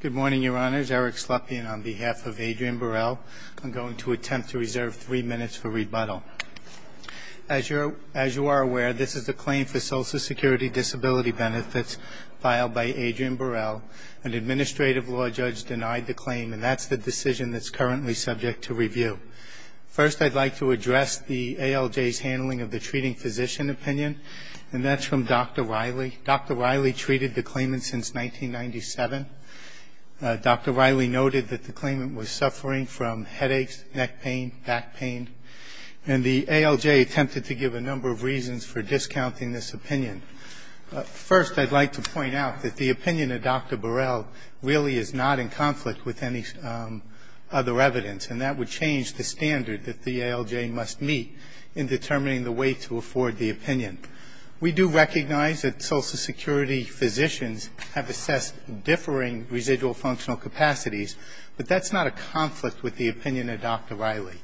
Good morning, Your Honors. Eric Slepian on behalf of Adrian Burrell. I'm going to attempt to reserve three minutes for rebuttal. As you are aware, this is a claim for Social Security disability benefits filed by Adrian Burrell. An administrative law judge denied the claim, and that's the decision that's currently subject to review. First, I'd like to address the ALJ's handling of the treating physician opinion, and that's from Dr. Riley. Dr. Riley treated the claimant since 1997. Dr. Riley noted that the claimant was suffering from headaches, neck pain, back pain, and the ALJ attempted to give a number of reasons for discounting this opinion. First, I'd like to point out that the opinion of Dr. Burrell really is not in conflict with any other evidence, and that would change the standard that the ALJ must meet in determining the way to afford the opinion. We do recognize that Social Security physicians have assessed differing residual functional capacities, but that's not a conflict with the opinion of Dr. Riley.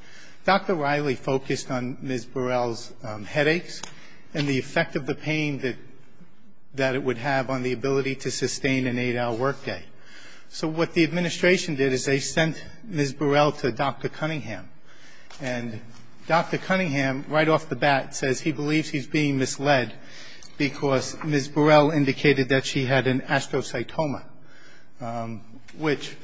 Dr. Riley focused on Ms. Burrell's headaches and the effect of the pain that it would have on the ability to sustain an 8-hour workday. So what the administration did is they sent Ms. Burrell to Dr. Cunningham, and Dr. Cunningham, right off the bat, says he believes he's being misled because Ms. Burrell indicated that she had an astrocytoma, which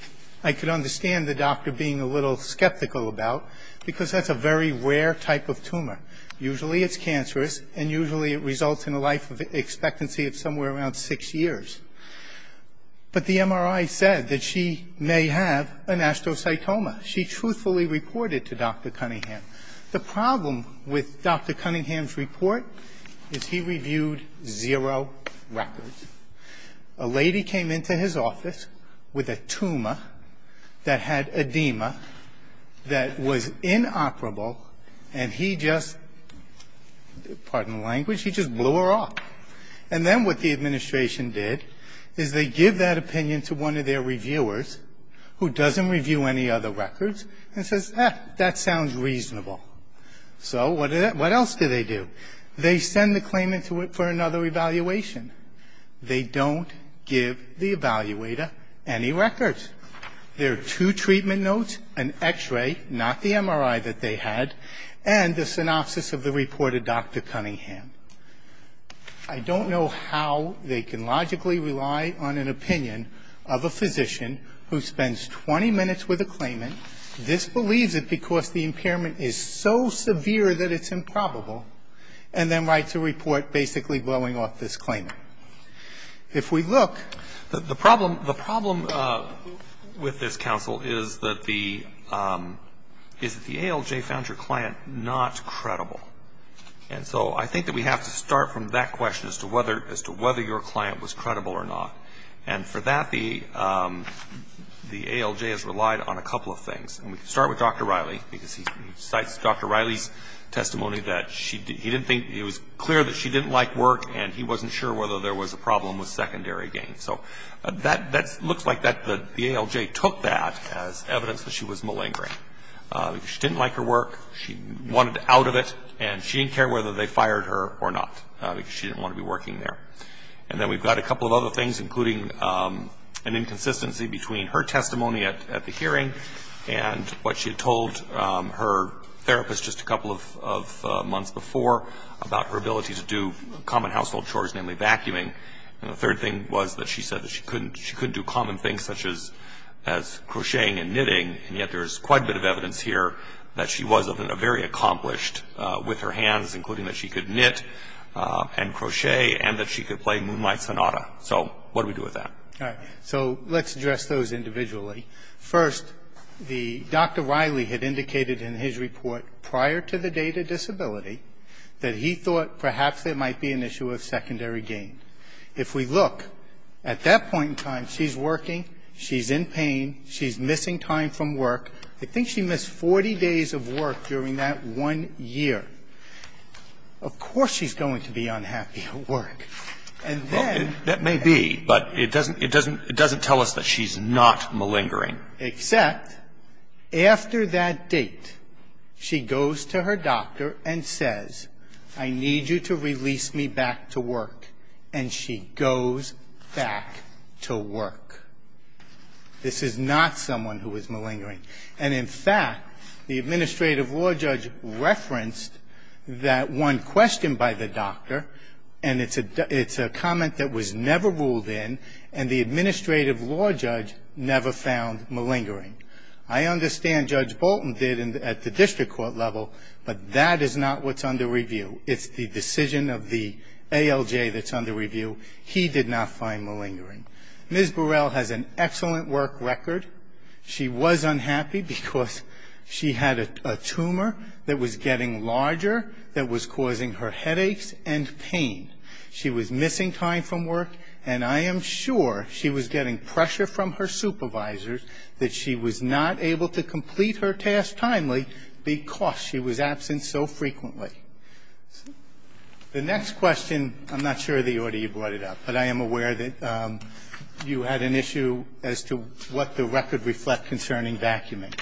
I could understand the doctor being a little skeptical about, because that's a very rare type of tumor. Usually it's cancerous, and usually it results in a life expectancy of somewhere around six years. But the MRI said that she may have an astrocytoma. She truthfully reported to Dr. Cunningham. The problem with Dr. Cunningham's report is he reviewed zero records. A lady came into his office with a tumor that had edema that was inoperable, and he just, pardon the language, he just blew her off. And then what the administration did is they give that reasonable. So what else do they do? They send the claimant for another evaluation. They don't give the evaluator any records. There are two treatment notes, an X-ray, not the MRI that they had, and the synopsis of the report of Dr. Cunningham. I don't know how they can logically rely on an opinion of a physician who spends 20 minutes with a claimant, disbelieves it because the impairment is so severe that it's improbable, and then writes a report basically blowing off this claimant. If we look, the problem with this counsel is that the ALJ found your client not credible or not. And for that, the ALJ has relied on a couple of things. And we can start with Dr. Riley, because he cites Dr. Riley's testimony that he didn't think it was clear that she didn't like work, and he wasn't sure whether there was a problem with secondary gain. So that looks like the ALJ took that as evidence that she was malingering. She didn't like her work. She wanted out of it, and she didn't care whether they fired her or not, because she didn't want to be working there. And then we've got a couple of other things, including an inconsistency between her testimony at the hearing and what she had told her therapist just a couple of months before about her ability to do common household chores, namely vacuuming. And the third thing was that she said that she couldn't do common things such as crocheting and knitting, and yet there's quite a bit of and crochet, and that she could play Moonlight Sonata. So what do we do with that? All right. So let's address those individually. First, Dr. Riley had indicated in his report prior to the date of disability that he thought perhaps there might be an issue of secondary gain. If we look, at that point in time, she's working, she's in pain, she's missing time from work. I think she missed 40 days of work during that one year. Of course she's going to be unhappy at work. And then – Well, that may be, but it doesn't – it doesn't – it doesn't tell us that she's not malingering. Except after that date, she goes to her doctor and says, I need you to release me back to work. And she goes back to work. This is not someone who is malingering. And in fact, the administrative law judge referenced that one question by the doctor, and it's a – it's a comment that was never ruled in, and the administrative law judge never found malingering. I understand Judge Bolton did at the district court level, but that is not what's under review. It's the decision of the ALJ that's under review. He did not find malingering. Ms. Burrell has an excellent work record. She was unhappy because she had a tumor that was getting larger, that was causing her headaches and pain. She was missing time from work, and I am sure she was getting pressure from her supervisors that she was not able to complete her task timely because she was absent so frequently. The next question – I'm not sure of the order you brought it up, but I am aware that you had an issue as to what the record reflects concerning vacuuming.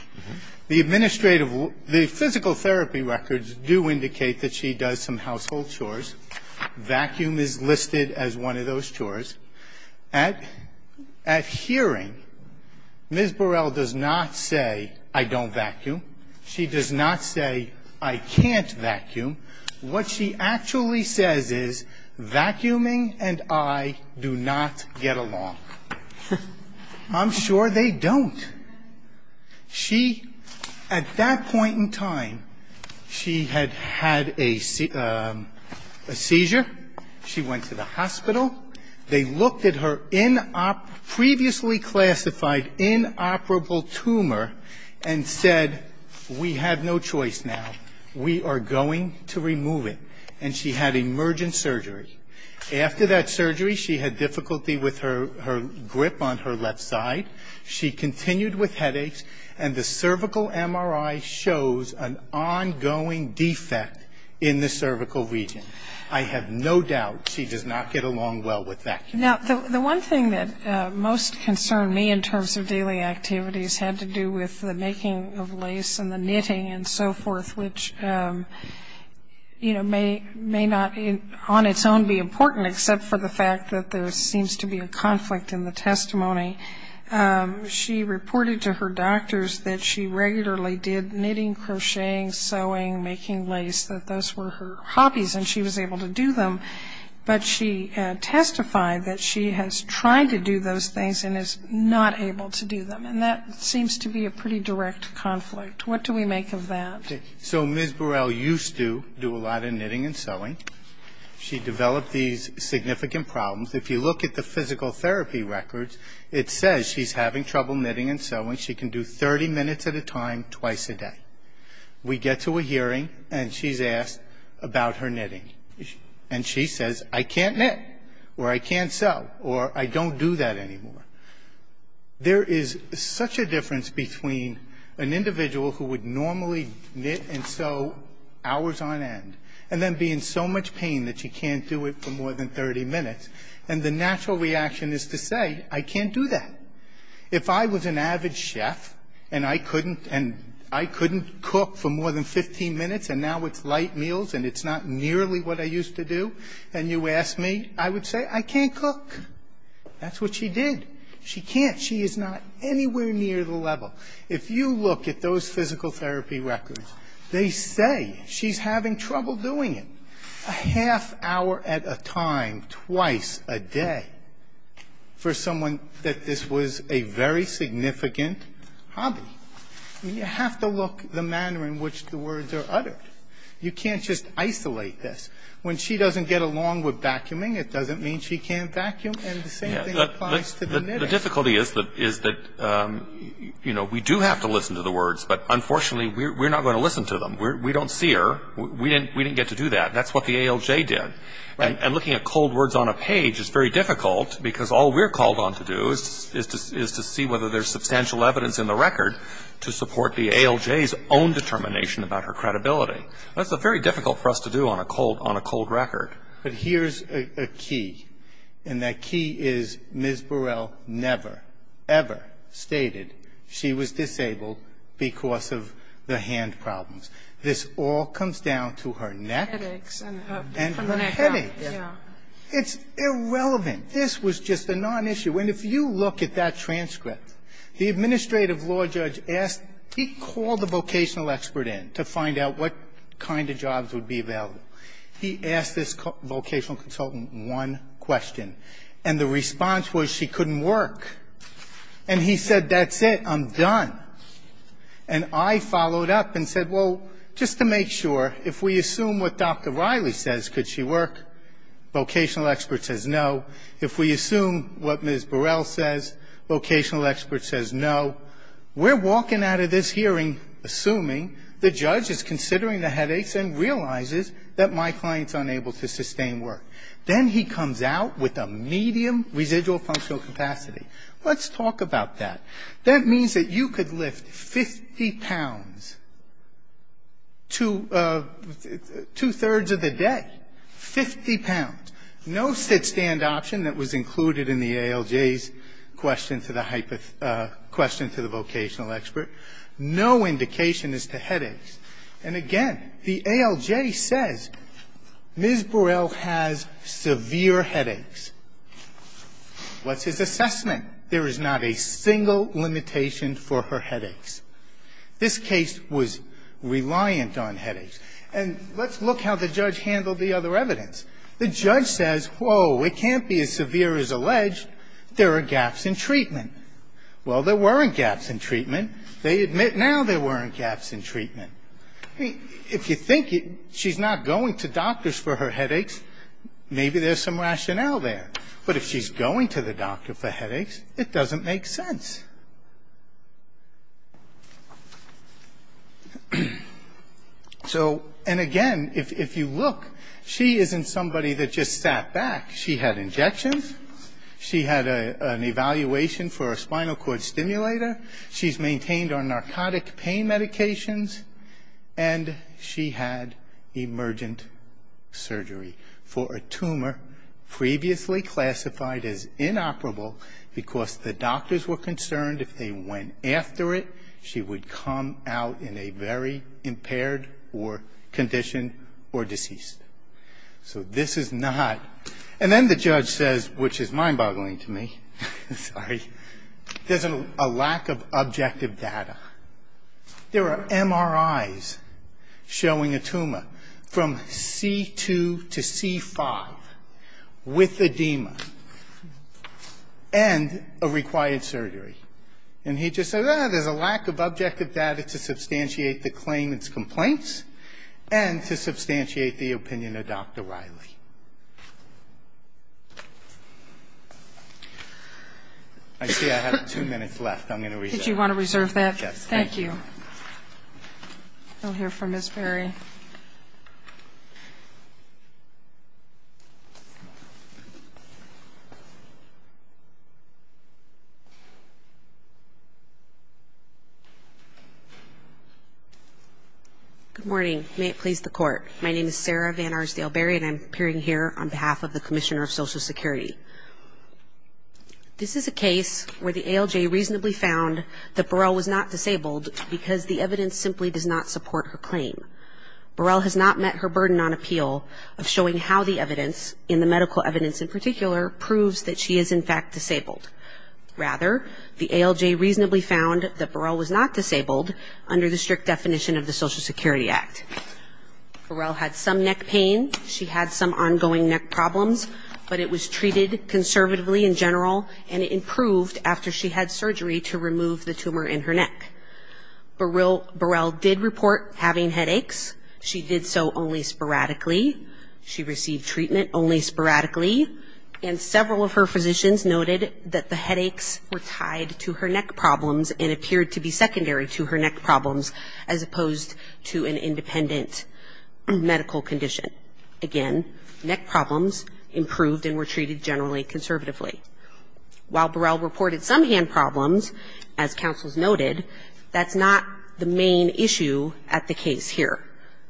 The administrative – the physical therapy records do indicate that she does some household chores. Vacuum is listed as one of those chores. At hearing, Ms. Burrell does not say, I don't vacuum. She does not say, I can't vacuum. What she actually says is, vacuuming and I do not get along. I'm sure they don't. She – at that point in time, she had had a seizure. She went to the hospital. They looked at her previously classified tumor and said, we have no choice now. We are going to remove it. And she had emergent surgery. After that surgery, she had difficulty with her grip on her left side. She continued with headaches, and the cervical MRI shows an ongoing defect in the cervical region. I have no doubt she does not get along well with vacuuming. Now, the one thing that most concerned me in terms of daily activities had to do with the making of lace and the knitting and so forth, which, you know, may not on its own be important except for the fact that there seems to be a conflict in the testimony. She reported to her doctors that she regularly did knitting, crocheting, sewing, making lace, that those were her hobbies, and she was able to do them. But she testified that she has tried to do those things and is not able to do them. And that seems to be a pretty direct conflict. What do we make of that? So Ms. Burrell used to do a lot of knitting and sewing. She developed these significant problems. If you look at the physical therapy records, it says she's having trouble knitting and sewing. She can do 30 minutes at a time, twice a day. We get to a point and she says, I can't knit, or I can't sew, or I don't do that anymore. There is such a difference between an individual who would normally knit and sew hours on end and then be in so much pain that she can't do it for more than 30 minutes. And the natural reaction is to say, I can't do that. If I was an avid chef and I couldn't cook for more than 15 minutes, and now it's light meals and it's not nearly what I used to do, and you ask me, I would say, I can't cook. That's what she did. She can't. She is not anywhere near the level. If you look at those physical therapy records, they say she's having trouble doing it a half hour at a time, twice a day, for someone that this was a very significant hobby. You have to look at the manner in which the words are uttered. You can't just isolate this. When she doesn't get along with vacuuming, it doesn't mean she can't vacuum, and the same thing applies to the knitting. The difficulty is that we do have to listen to the words, but unfortunately we're not going to listen to them. We don't see her. We didn't get to So what we've gone on to do is to see whether there's substantial evidence in the record to support the ALJ's own determination about her credibility. That's very difficult for us to do on a cold record. But here's a key, and that key is Ms. Burrell never, ever stated she was disabled because of the hand problems. This all comes down to her neck. And her headaches. It's irrelevant. This was just a nonissue. And if you look at that transcript, the administrative law judge asked he called the vocational expert in to find out what kind of jobs would be available. He asked this vocational consultant one question, and the response was she couldn't work. And he said, that's it, I'm done. And I followed up and said, well, just to make sure, if we assume what Dr. Burrell says, could she work, vocational expert says no. If we assume what Ms. Burrell says, vocational expert says no. We're walking out of this hearing assuming the judge is considering the headaches and realizes that my client's unable to sustain work. Then he comes out with a medium residual functional capacity. Let's talk about that. That means that you could lift 50 pounds, two thirds of a foot, and still be able to work. Two thirds of the day. 50 pounds. No sit-stand option that was included in the ALJ's question to the vocational expert. No indication as to headaches. And again, the ALJ says Ms. Burrell has severe headaches. What's his assessment? There is not a single limitation for her headaches. This case was reliant on headaches. And let's look how the judge handled the other evidence. The judge says, whoa, it can't be as severe as alleged. There are gaps in treatment. Well, there weren't gaps in treatment. They admit now there weren't gaps in treatment. I mean, if you think she's not going to doctors for her headaches, maybe there's some rationale there. But if she's going to the doctor for headaches, it doesn't make sense. So, and again, if you look, she isn't somebody that just sat back. She had injections. She had an evaluation for a spinal cord stimulator. She's maintained on narcotic pain medications. And she had emergent surgery for a tumor previously classified as inoperable because the doctors were concerned if they went after it, she would come out in a very impaired or conditioned or deceased. So this is not. And then the judge says, which is mind-boggling to me, sorry, there's a lack of objective data. There are MRIs showing a tumor from C2 to C5 with edema and a required surgery. And he just said, ah, there's a lack of objective data to substantiate the claimant's complaints and to substantiate the opinion of Dr. Riley. I see I have two minutes left. I'm going to reserve. Thank you. Good morning. May it please the Court. My name is Sarah Van Arsdale-Berry, and I'm appearing here on behalf of the Commissioner of Social Security. I'm here to report that Barrell was not disabled because the evidence simply does not support her claim. Barrell has not met her burden on appeal of showing how the evidence, in the medical evidence in particular, proves that she is in fact disabled. Rather, the ALJ reasonably found that Barrell was not disabled under the strict definition of the Social Security Act. Barrell had some neck pain. She had some ongoing neck problems. But it was treated conservatively in her neck. Barrell did report having headaches. She did so only sporadically. She received treatment only sporadically. And several of her physicians noted that the headaches were tied to her neck problems and appeared to be secondary to her neck problems as opposed to an independent medical condition. Again, neck problems improved and were treated generally conservatively. While Barrell reported some hand problems, as counsels noted, that's not the main issue at the case here.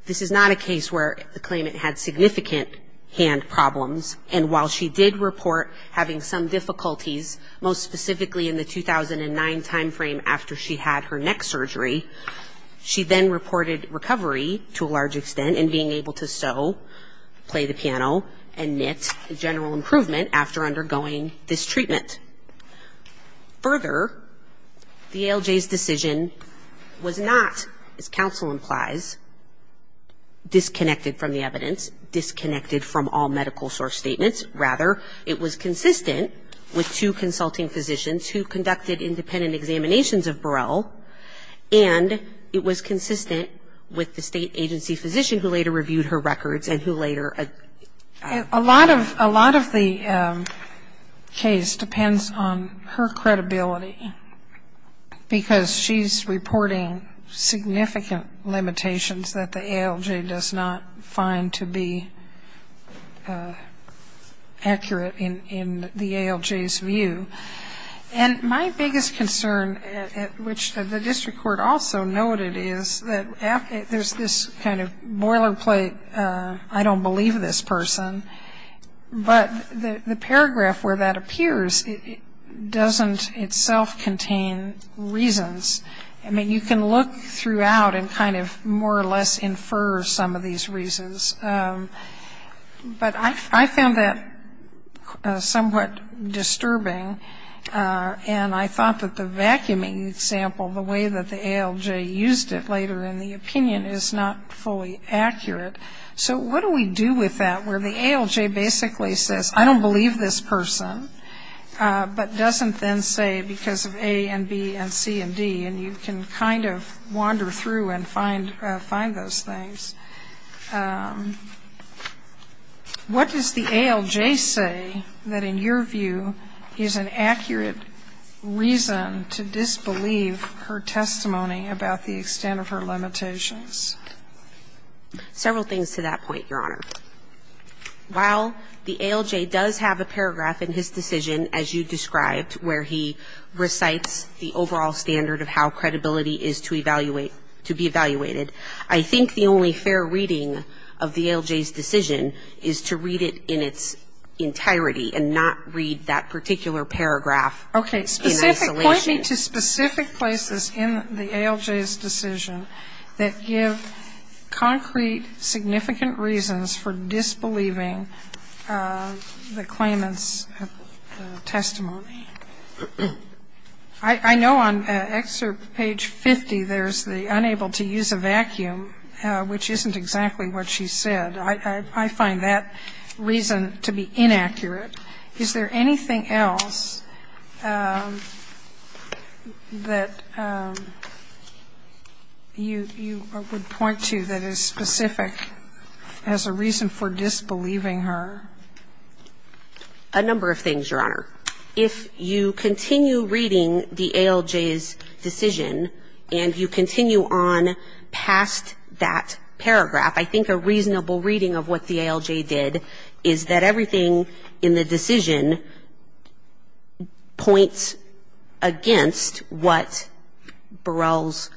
This is not a case where the claimant had significant hand problems. And while she did report having some difficulties, most specifically in the 2009 timeframe after she had her neck surgery, she then reported recovery to a physician after undergoing this treatment. Further, the ALJ's decision was not, as counsel implies, disconnected from the evidence, disconnected from all medical source statements. Rather, it was consistent with two consulting physicians who conducted independent examinations of Barrell, and it was consistent with the State agency physician who later reviewed her records and who later ---- A lot of the case depends on her credibility, because she's reporting significant limitations that the ALJ does not find to be accurate in the ALJ's view. And my biggest concern, which the district court also noted, is that there's this kind of boilerplate, I don't believe this person, but the paragraph where that appears doesn't itself contain reasons. I mean, you can look throughout and kind of more or less infer some of these reasons. But I found that somewhat disturbing, and I thought that the vacuuming example, the way that the ALJ used it later in the opinion is not fully accurate. So what do we do with that, where the ALJ basically says, I don't believe this person, but doesn't then say, because of A and B and C and D, and you can kind of wander through and find those things. What does the ALJ say that in your view is an accurate reason to disbelieve her testimony about the extent of her credibility? Several things to that point, Your Honor. While the ALJ does have a paragraph in his decision, as you described, where he recites the overall standard of how credibility is to evaluate ---- to be evaluated, I think the only fair reading of the ALJ's decision is to read it in its entirety and not read that particular paragraph in isolation. Okay. Point me to specific places in the ALJ's decision that give concrete evidence that the claimant's testimony is inaccurate. I know on excerpt page 50, there's the unable to use a vacuum, which isn't exactly what she said. I find that reason to be inaccurate. Is there anything else that you would point to that is specific to the claimant's testimony? Anything specific as a reason for disbelieving her? A number of things, Your Honor. If you continue reading the ALJ's decision, and you continue on past that paragraph, I think a reasonable reading of what the ALJ did is that everything in the decision points against what Burrell's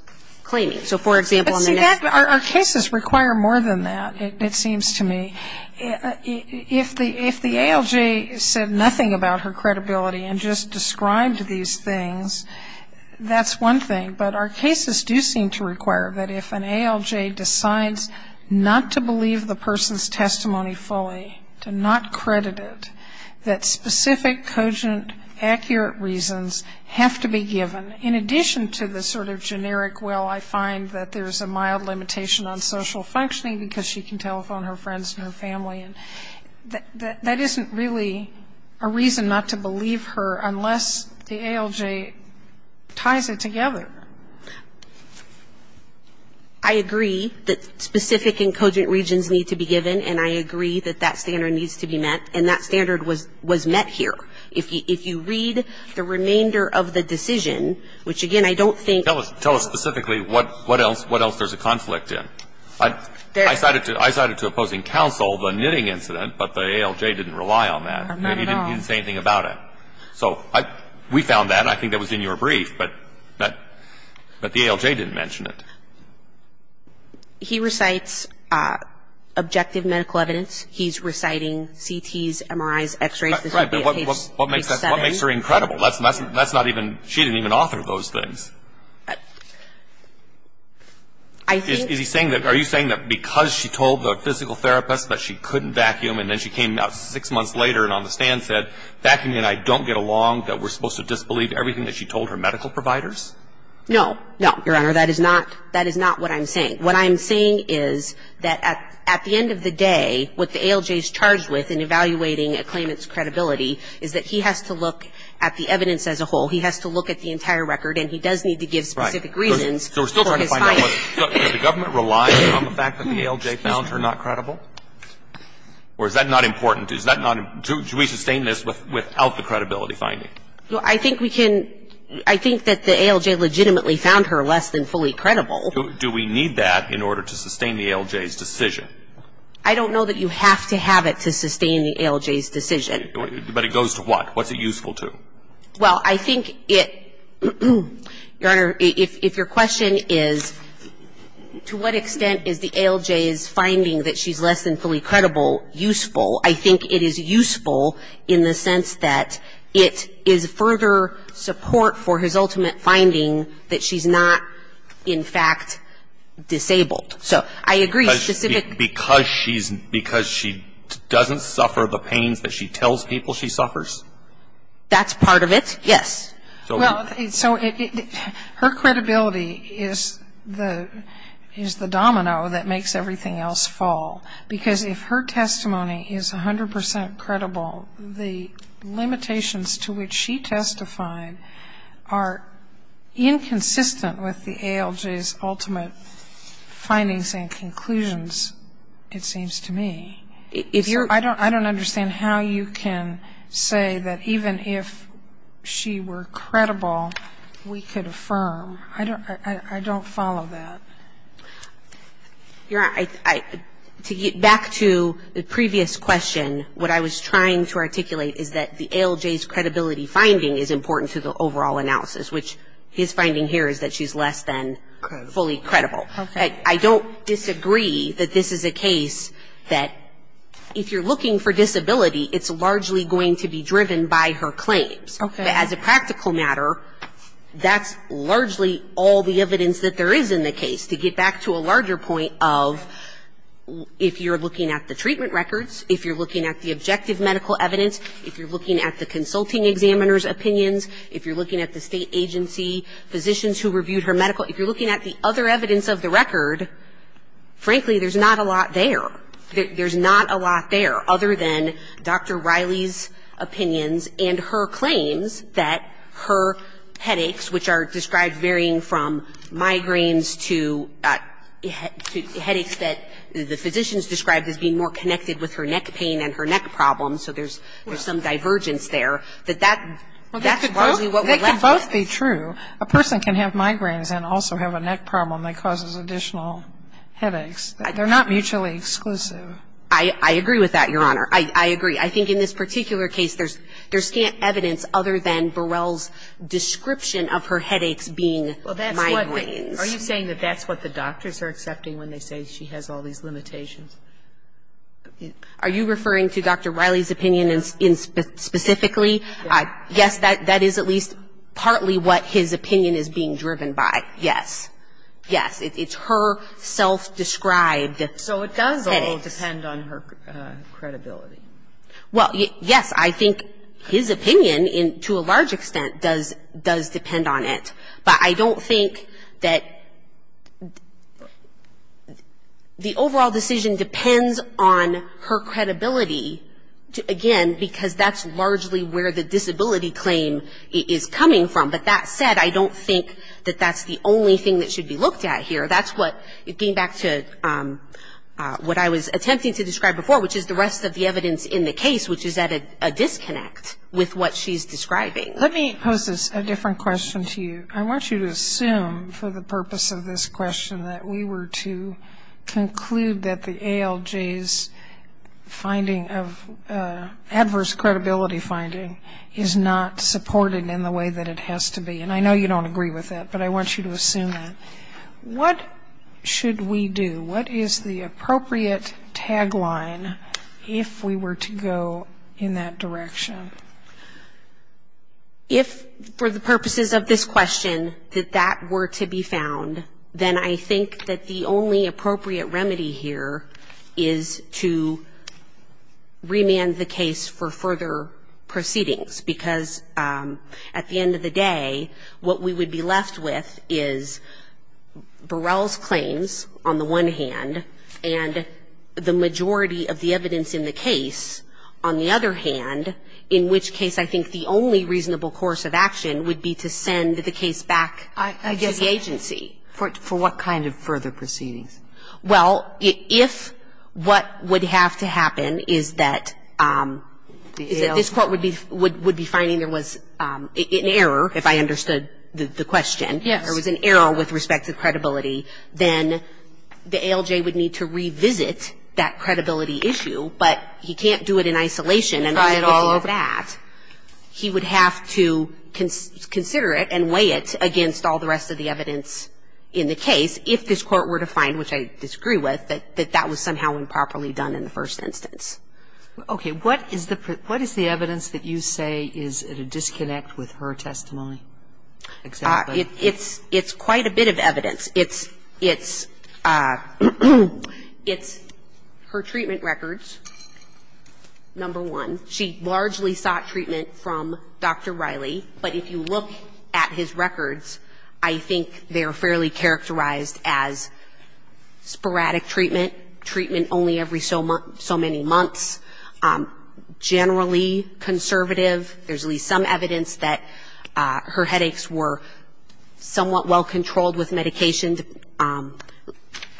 claiming. So, for example, in the next ---- But see, our cases require more than that, it seems to me. If the ALJ said nothing about her credibility and just described these things, that's one thing. But our cases do seem to require that if an ALJ decides not to believe the person's testimony fully, to not credit it, that specific, cogent, accurate reasons have to be given, in addition to the sort of belief that the ALJ did not find that there's a mild limitation on social functioning because she can telephone her friends and her family. And that isn't really a reason not to believe her, unless the ALJ ties it together. I agree that specific and cogent reasons need to be given, and I agree that that standard needs to be met, and that standard was met here. If you read the remainder of the decision, which, again, I don't think ---- Tell us specifically what else there's a conflict in. I cited to opposing counsel the knitting incident, but the ALJ didn't rely on that. He didn't say anything about it. So we found that, and I think that was in your brief, but the ALJ didn't mention it. He recites objective medical evidence. He's reciting CTs, MRIs, X-rays. Right, but what makes her incredible? She didn't even author those things. I think ---- Are you saying that because she told the physical therapist that she couldn't vacuum, and then she came out six months later and on the stand said, vacuuming and I don't get along, that we're supposed to disbelieve everything that she told her medical providers? No. No, Your Honor. That is not what I'm saying. What I'm saying is that at the end of the day, what the ALJ is charged with in evaluating a claimant's credibility is that he has to look at the evidence as a whole. He has to look at the entire Right. So we're still trying to find out whether the government relies on the fact that the ALJ found her not credible, or is that not important? Do we sustain this without the credibility finding? Well, I think we can ---- I think that the ALJ legitimately found her less than fully credible. Do we need that in order to sustain the ALJ's decision? I don't know that you have to have it to sustain the ALJ's decision. But it goes to what? What's it useful to? Well, I think it ---- Your Honor, if your question is, to what extent is the ALJ's finding that she's less than fully credible useful, I think it is useful in the sense that it is further support for his ultimate finding that she's not, in fact, disabled. So I agree, specific ---- Because she's ---- because she doesn't suffer the pains that she tells people she suffers? That's part of it, yes. Well, so it ---- her credibility is the domino that makes everything else fall. Because if her testimony is 100 percent credible, the limitations to which she testified are inconsistent with the ALJ's ultimate finding. So I don't understand how you can say that even if she were credible, we could affirm. I don't follow that. Your Honor, to get back to the previous question, what I was trying to articulate is that the ALJ's credibility finding is important to the overall analysis, which his finding here is that she's less than fully credible. I don't disagree that this is a case that if you're looking for disability, it's largely going to be driven by her claims. As a practical matter, that's largely all the evidence that there is in the case, to get back to a larger point of if you're looking at the treatment records, if you're looking at the objective medical evidence, if you're looking at the consulting examiner's opinions, if you're looking at the state agency physicians who reviewed her medical, if you're looking at the other evidence of the record, frankly, there's not a lot there. There's not a lot there other than Dr. Riley's opinions and her claims that her headaches, which are described varying from migraines to headaches that the physicians described as being more connected with her neck pain and her neck problems, so there's some divergence there, that that's largely what we're looking at. I agree with that, Your Honor. I agree. I think in this particular case, there's scant evidence other than Burrell's description of her headaches being migraines. Are you saying that that's what the doctors are accepting when they say she has all these limitations? Are you referring to Dr. Riley's opinion specifically? Yes, that is at least partly what his opinion is being driven by, yes. Yes, it's her self-described headaches. So it does all depend on her credibility. Well, yes, I think his opinion, to a large extent, does depend on it, but I don't think that the overall decision depends on her credibility, again, because that's largely where the disability claim is coming from. But that said, I don't think that that's the only thing that should be looked at here. That's what, getting back to what I was attempting to describe before, which is the rest of the evidence in the case, which is at a disconnect with what she's describing. Let me pose a different question to you. I want you to assume, for the purpose of this question, that we were to conclude that the ALJ's finding of adverse credibility finding is not supported in the way that it has to be. And I know you don't agree with that, but I want you to assume that. What should we do? What is the appropriate tagline if we were to go in that direction? If, for the purposes of this question, that that were to be found, then I think that the only appropriate remedy here is to remand the case for further proceedings, because at the end of the day, what we would be left with is Burrell's claims, on the one hand, and the majority of the evidence in the case, on the other hand, in which case I think the only reasonable course of action would be to send the case back to the agency. For what kind of further proceedings? Well, if what would have to happen is that this Court would be finding there was an error, if I understood the question, there was an error with respect to credibility, then the ALJ would need to revisit that credibility issue, but he can't do it in isolation. And if he were to do that, he would have to consider it and weigh it against all the rest of the evidence in the case, if this Court were to find, which I disagree with, that that was somehow improperly done in the first instance. Okay. What is the evidence that you say is at a disconnect with her testimony? It's quite a bit of evidence. It's her treatment records, number one. She largely sought treatment from Dr. Riley, but if you look at his records, I think they are fairly characterized as sporadic treatment, treatment only every so many months, generally conservative. There's at least some evidence that her headaches were somewhat well-controlled with medication.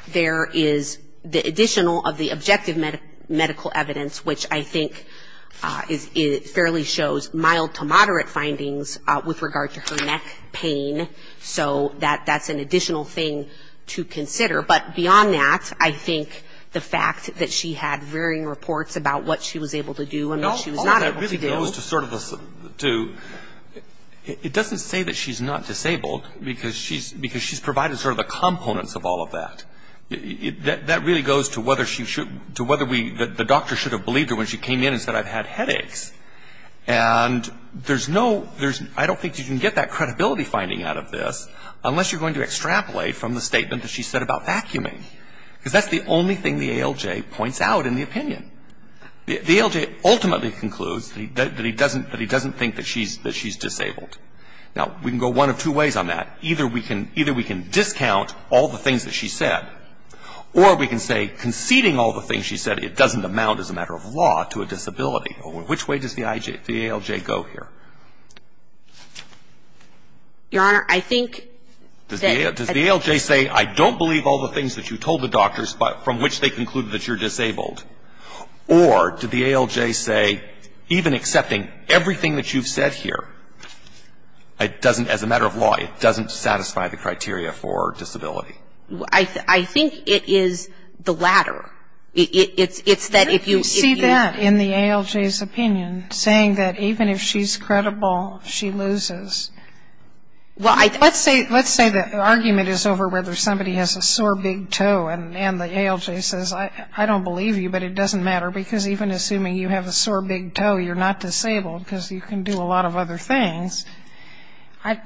There is the additional of the objective medical evidence, which I think, for the most part, fairly shows mild to moderate findings with regard to her neck pain, so that that's an additional thing to consider. But beyond that, I think the fact that she had varying reports about what she was able to do and what she was not able to do. No. All of that really goes to sort of a, to, it doesn't say that she's not disabled because she's provided sort of the components of all of that. That really goes to whether she should, to whether we, the doctor should have believed her when she came in and said I've had headaches. And there's no, there's, I don't think you can get that credibility finding out of this unless you're going to extrapolate from the statement that she said about vacuuming, because that's the only thing the ALJ points out in the opinion. The ALJ ultimately concludes that he doesn't, that he doesn't think that she's, that she's disabled. Now, we can go one of two ways on that. Either we can, either we can discount all the things that she said, or we can say conceding all the things she said it doesn't amount as a matter of law to a disability. Which way does the IJ, the ALJ go here? Your Honor, I think that the ALJ says I don't believe all the things that you told the doctors, but from which they concluded that you're disabled. Or did the ALJ say, even accepting everything that you've said here, I don't believe all the things that you've told the doctors, it doesn't, as a matter of law, it doesn't satisfy the criteria for disability? I think it is the latter. It's that if you see that in the ALJ's opinion, saying that even if she's credible, she loses. Let's say the argument is over whether somebody has a sore big toe, and the ALJ says, I don't believe you, but it doesn't matter, because even assuming you have a sore big toe, you're not disabled, because you can do a lot of other things. I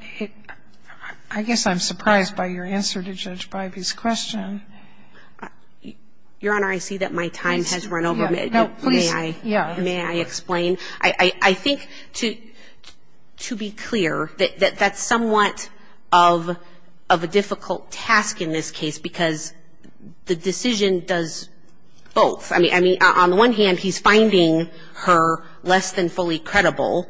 guess I'm surprised by your answer to Judge Bybee's question. Your Honor, I see that my time has run over. May I explain? I think, to be clear, that that's somewhat of a difficult task in this case, because the decision does both. I mean, on the one hand, he's finding her less than fully credible,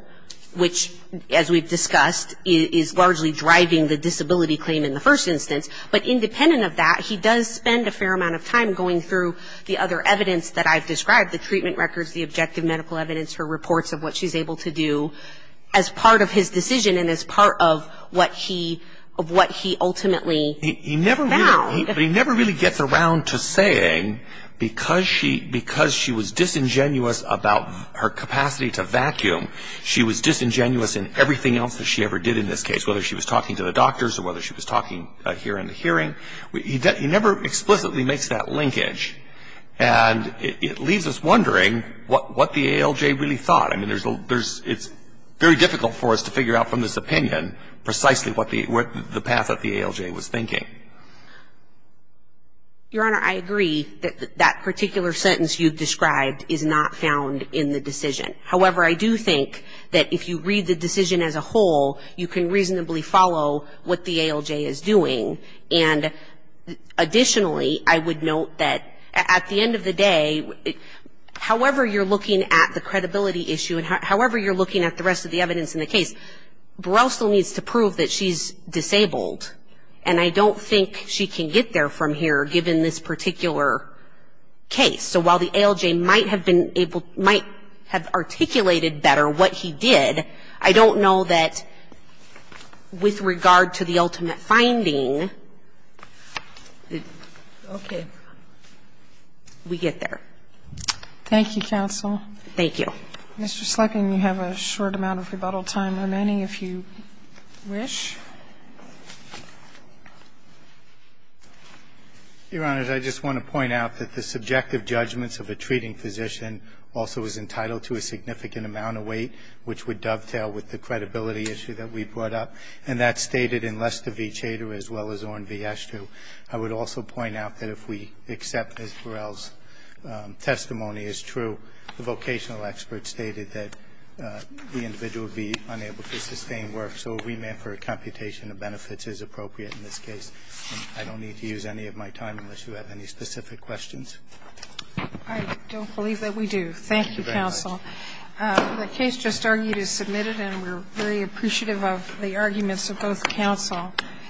which, as we've discussed, is largely driving the disability claim in the first instance, but independent of that, he does spend a fair amount of time going through the other evidence that I've described, the treatment records, the objective medical evidence, her reports of what she's able to do as part of his decision and as part of what he ultimately found. But he never really gets around to saying, because she was disingenuous about her capacity to vacuum, she was disingenuous in everything else that she ever did in this case, whether she was talking to the doctors or whether she was talking here in the hearing. He never explicitly makes that linkage, and it leaves us wondering what the ALJ really thought. I mean, it's very difficult for us to figure out from this opinion precisely what the path that the ALJ was thinking. Your Honor, I agree that that particular sentence you've described is not found in the decision. However, I do think that if you read the decision as a whole, you can reasonably follow what the ALJ is doing. And additionally, I would note that at the end of the day, however you're looking at the credibility issue and however you're looking at the rest of the evidence in the case, Burrell still needs to prove that she's disabled, and I don't think she can get there from here given this particular case. So while the ALJ might have been able to – might have articulated better what he did, I don't know that with regard to the ultimate finding that we get there. Thank you, counsel. Thank you. Mr. Slepin, you have a short amount of rebuttal time remaining, if you wish. Your Honor, I just want to point out that the subjective judgments of a treating physician also is entitled to a significant amount of weight, which would dovetail with the credibility issue that we brought up, and that's stated in Lester v. Chater as well as Oren v. Ashtew. I would also point out that if we accept Ms. Burrell's testimony as true, the vocational expert stated that the individual would be unable to sustain work. So a remand for a computation of benefits is appropriate in this case. I don't need to use any of my time unless you have any specific questions. I don't believe that we do. Thank you, counsel. The case just argued is submitted, and we're very appreciative of the arguments of both counsel.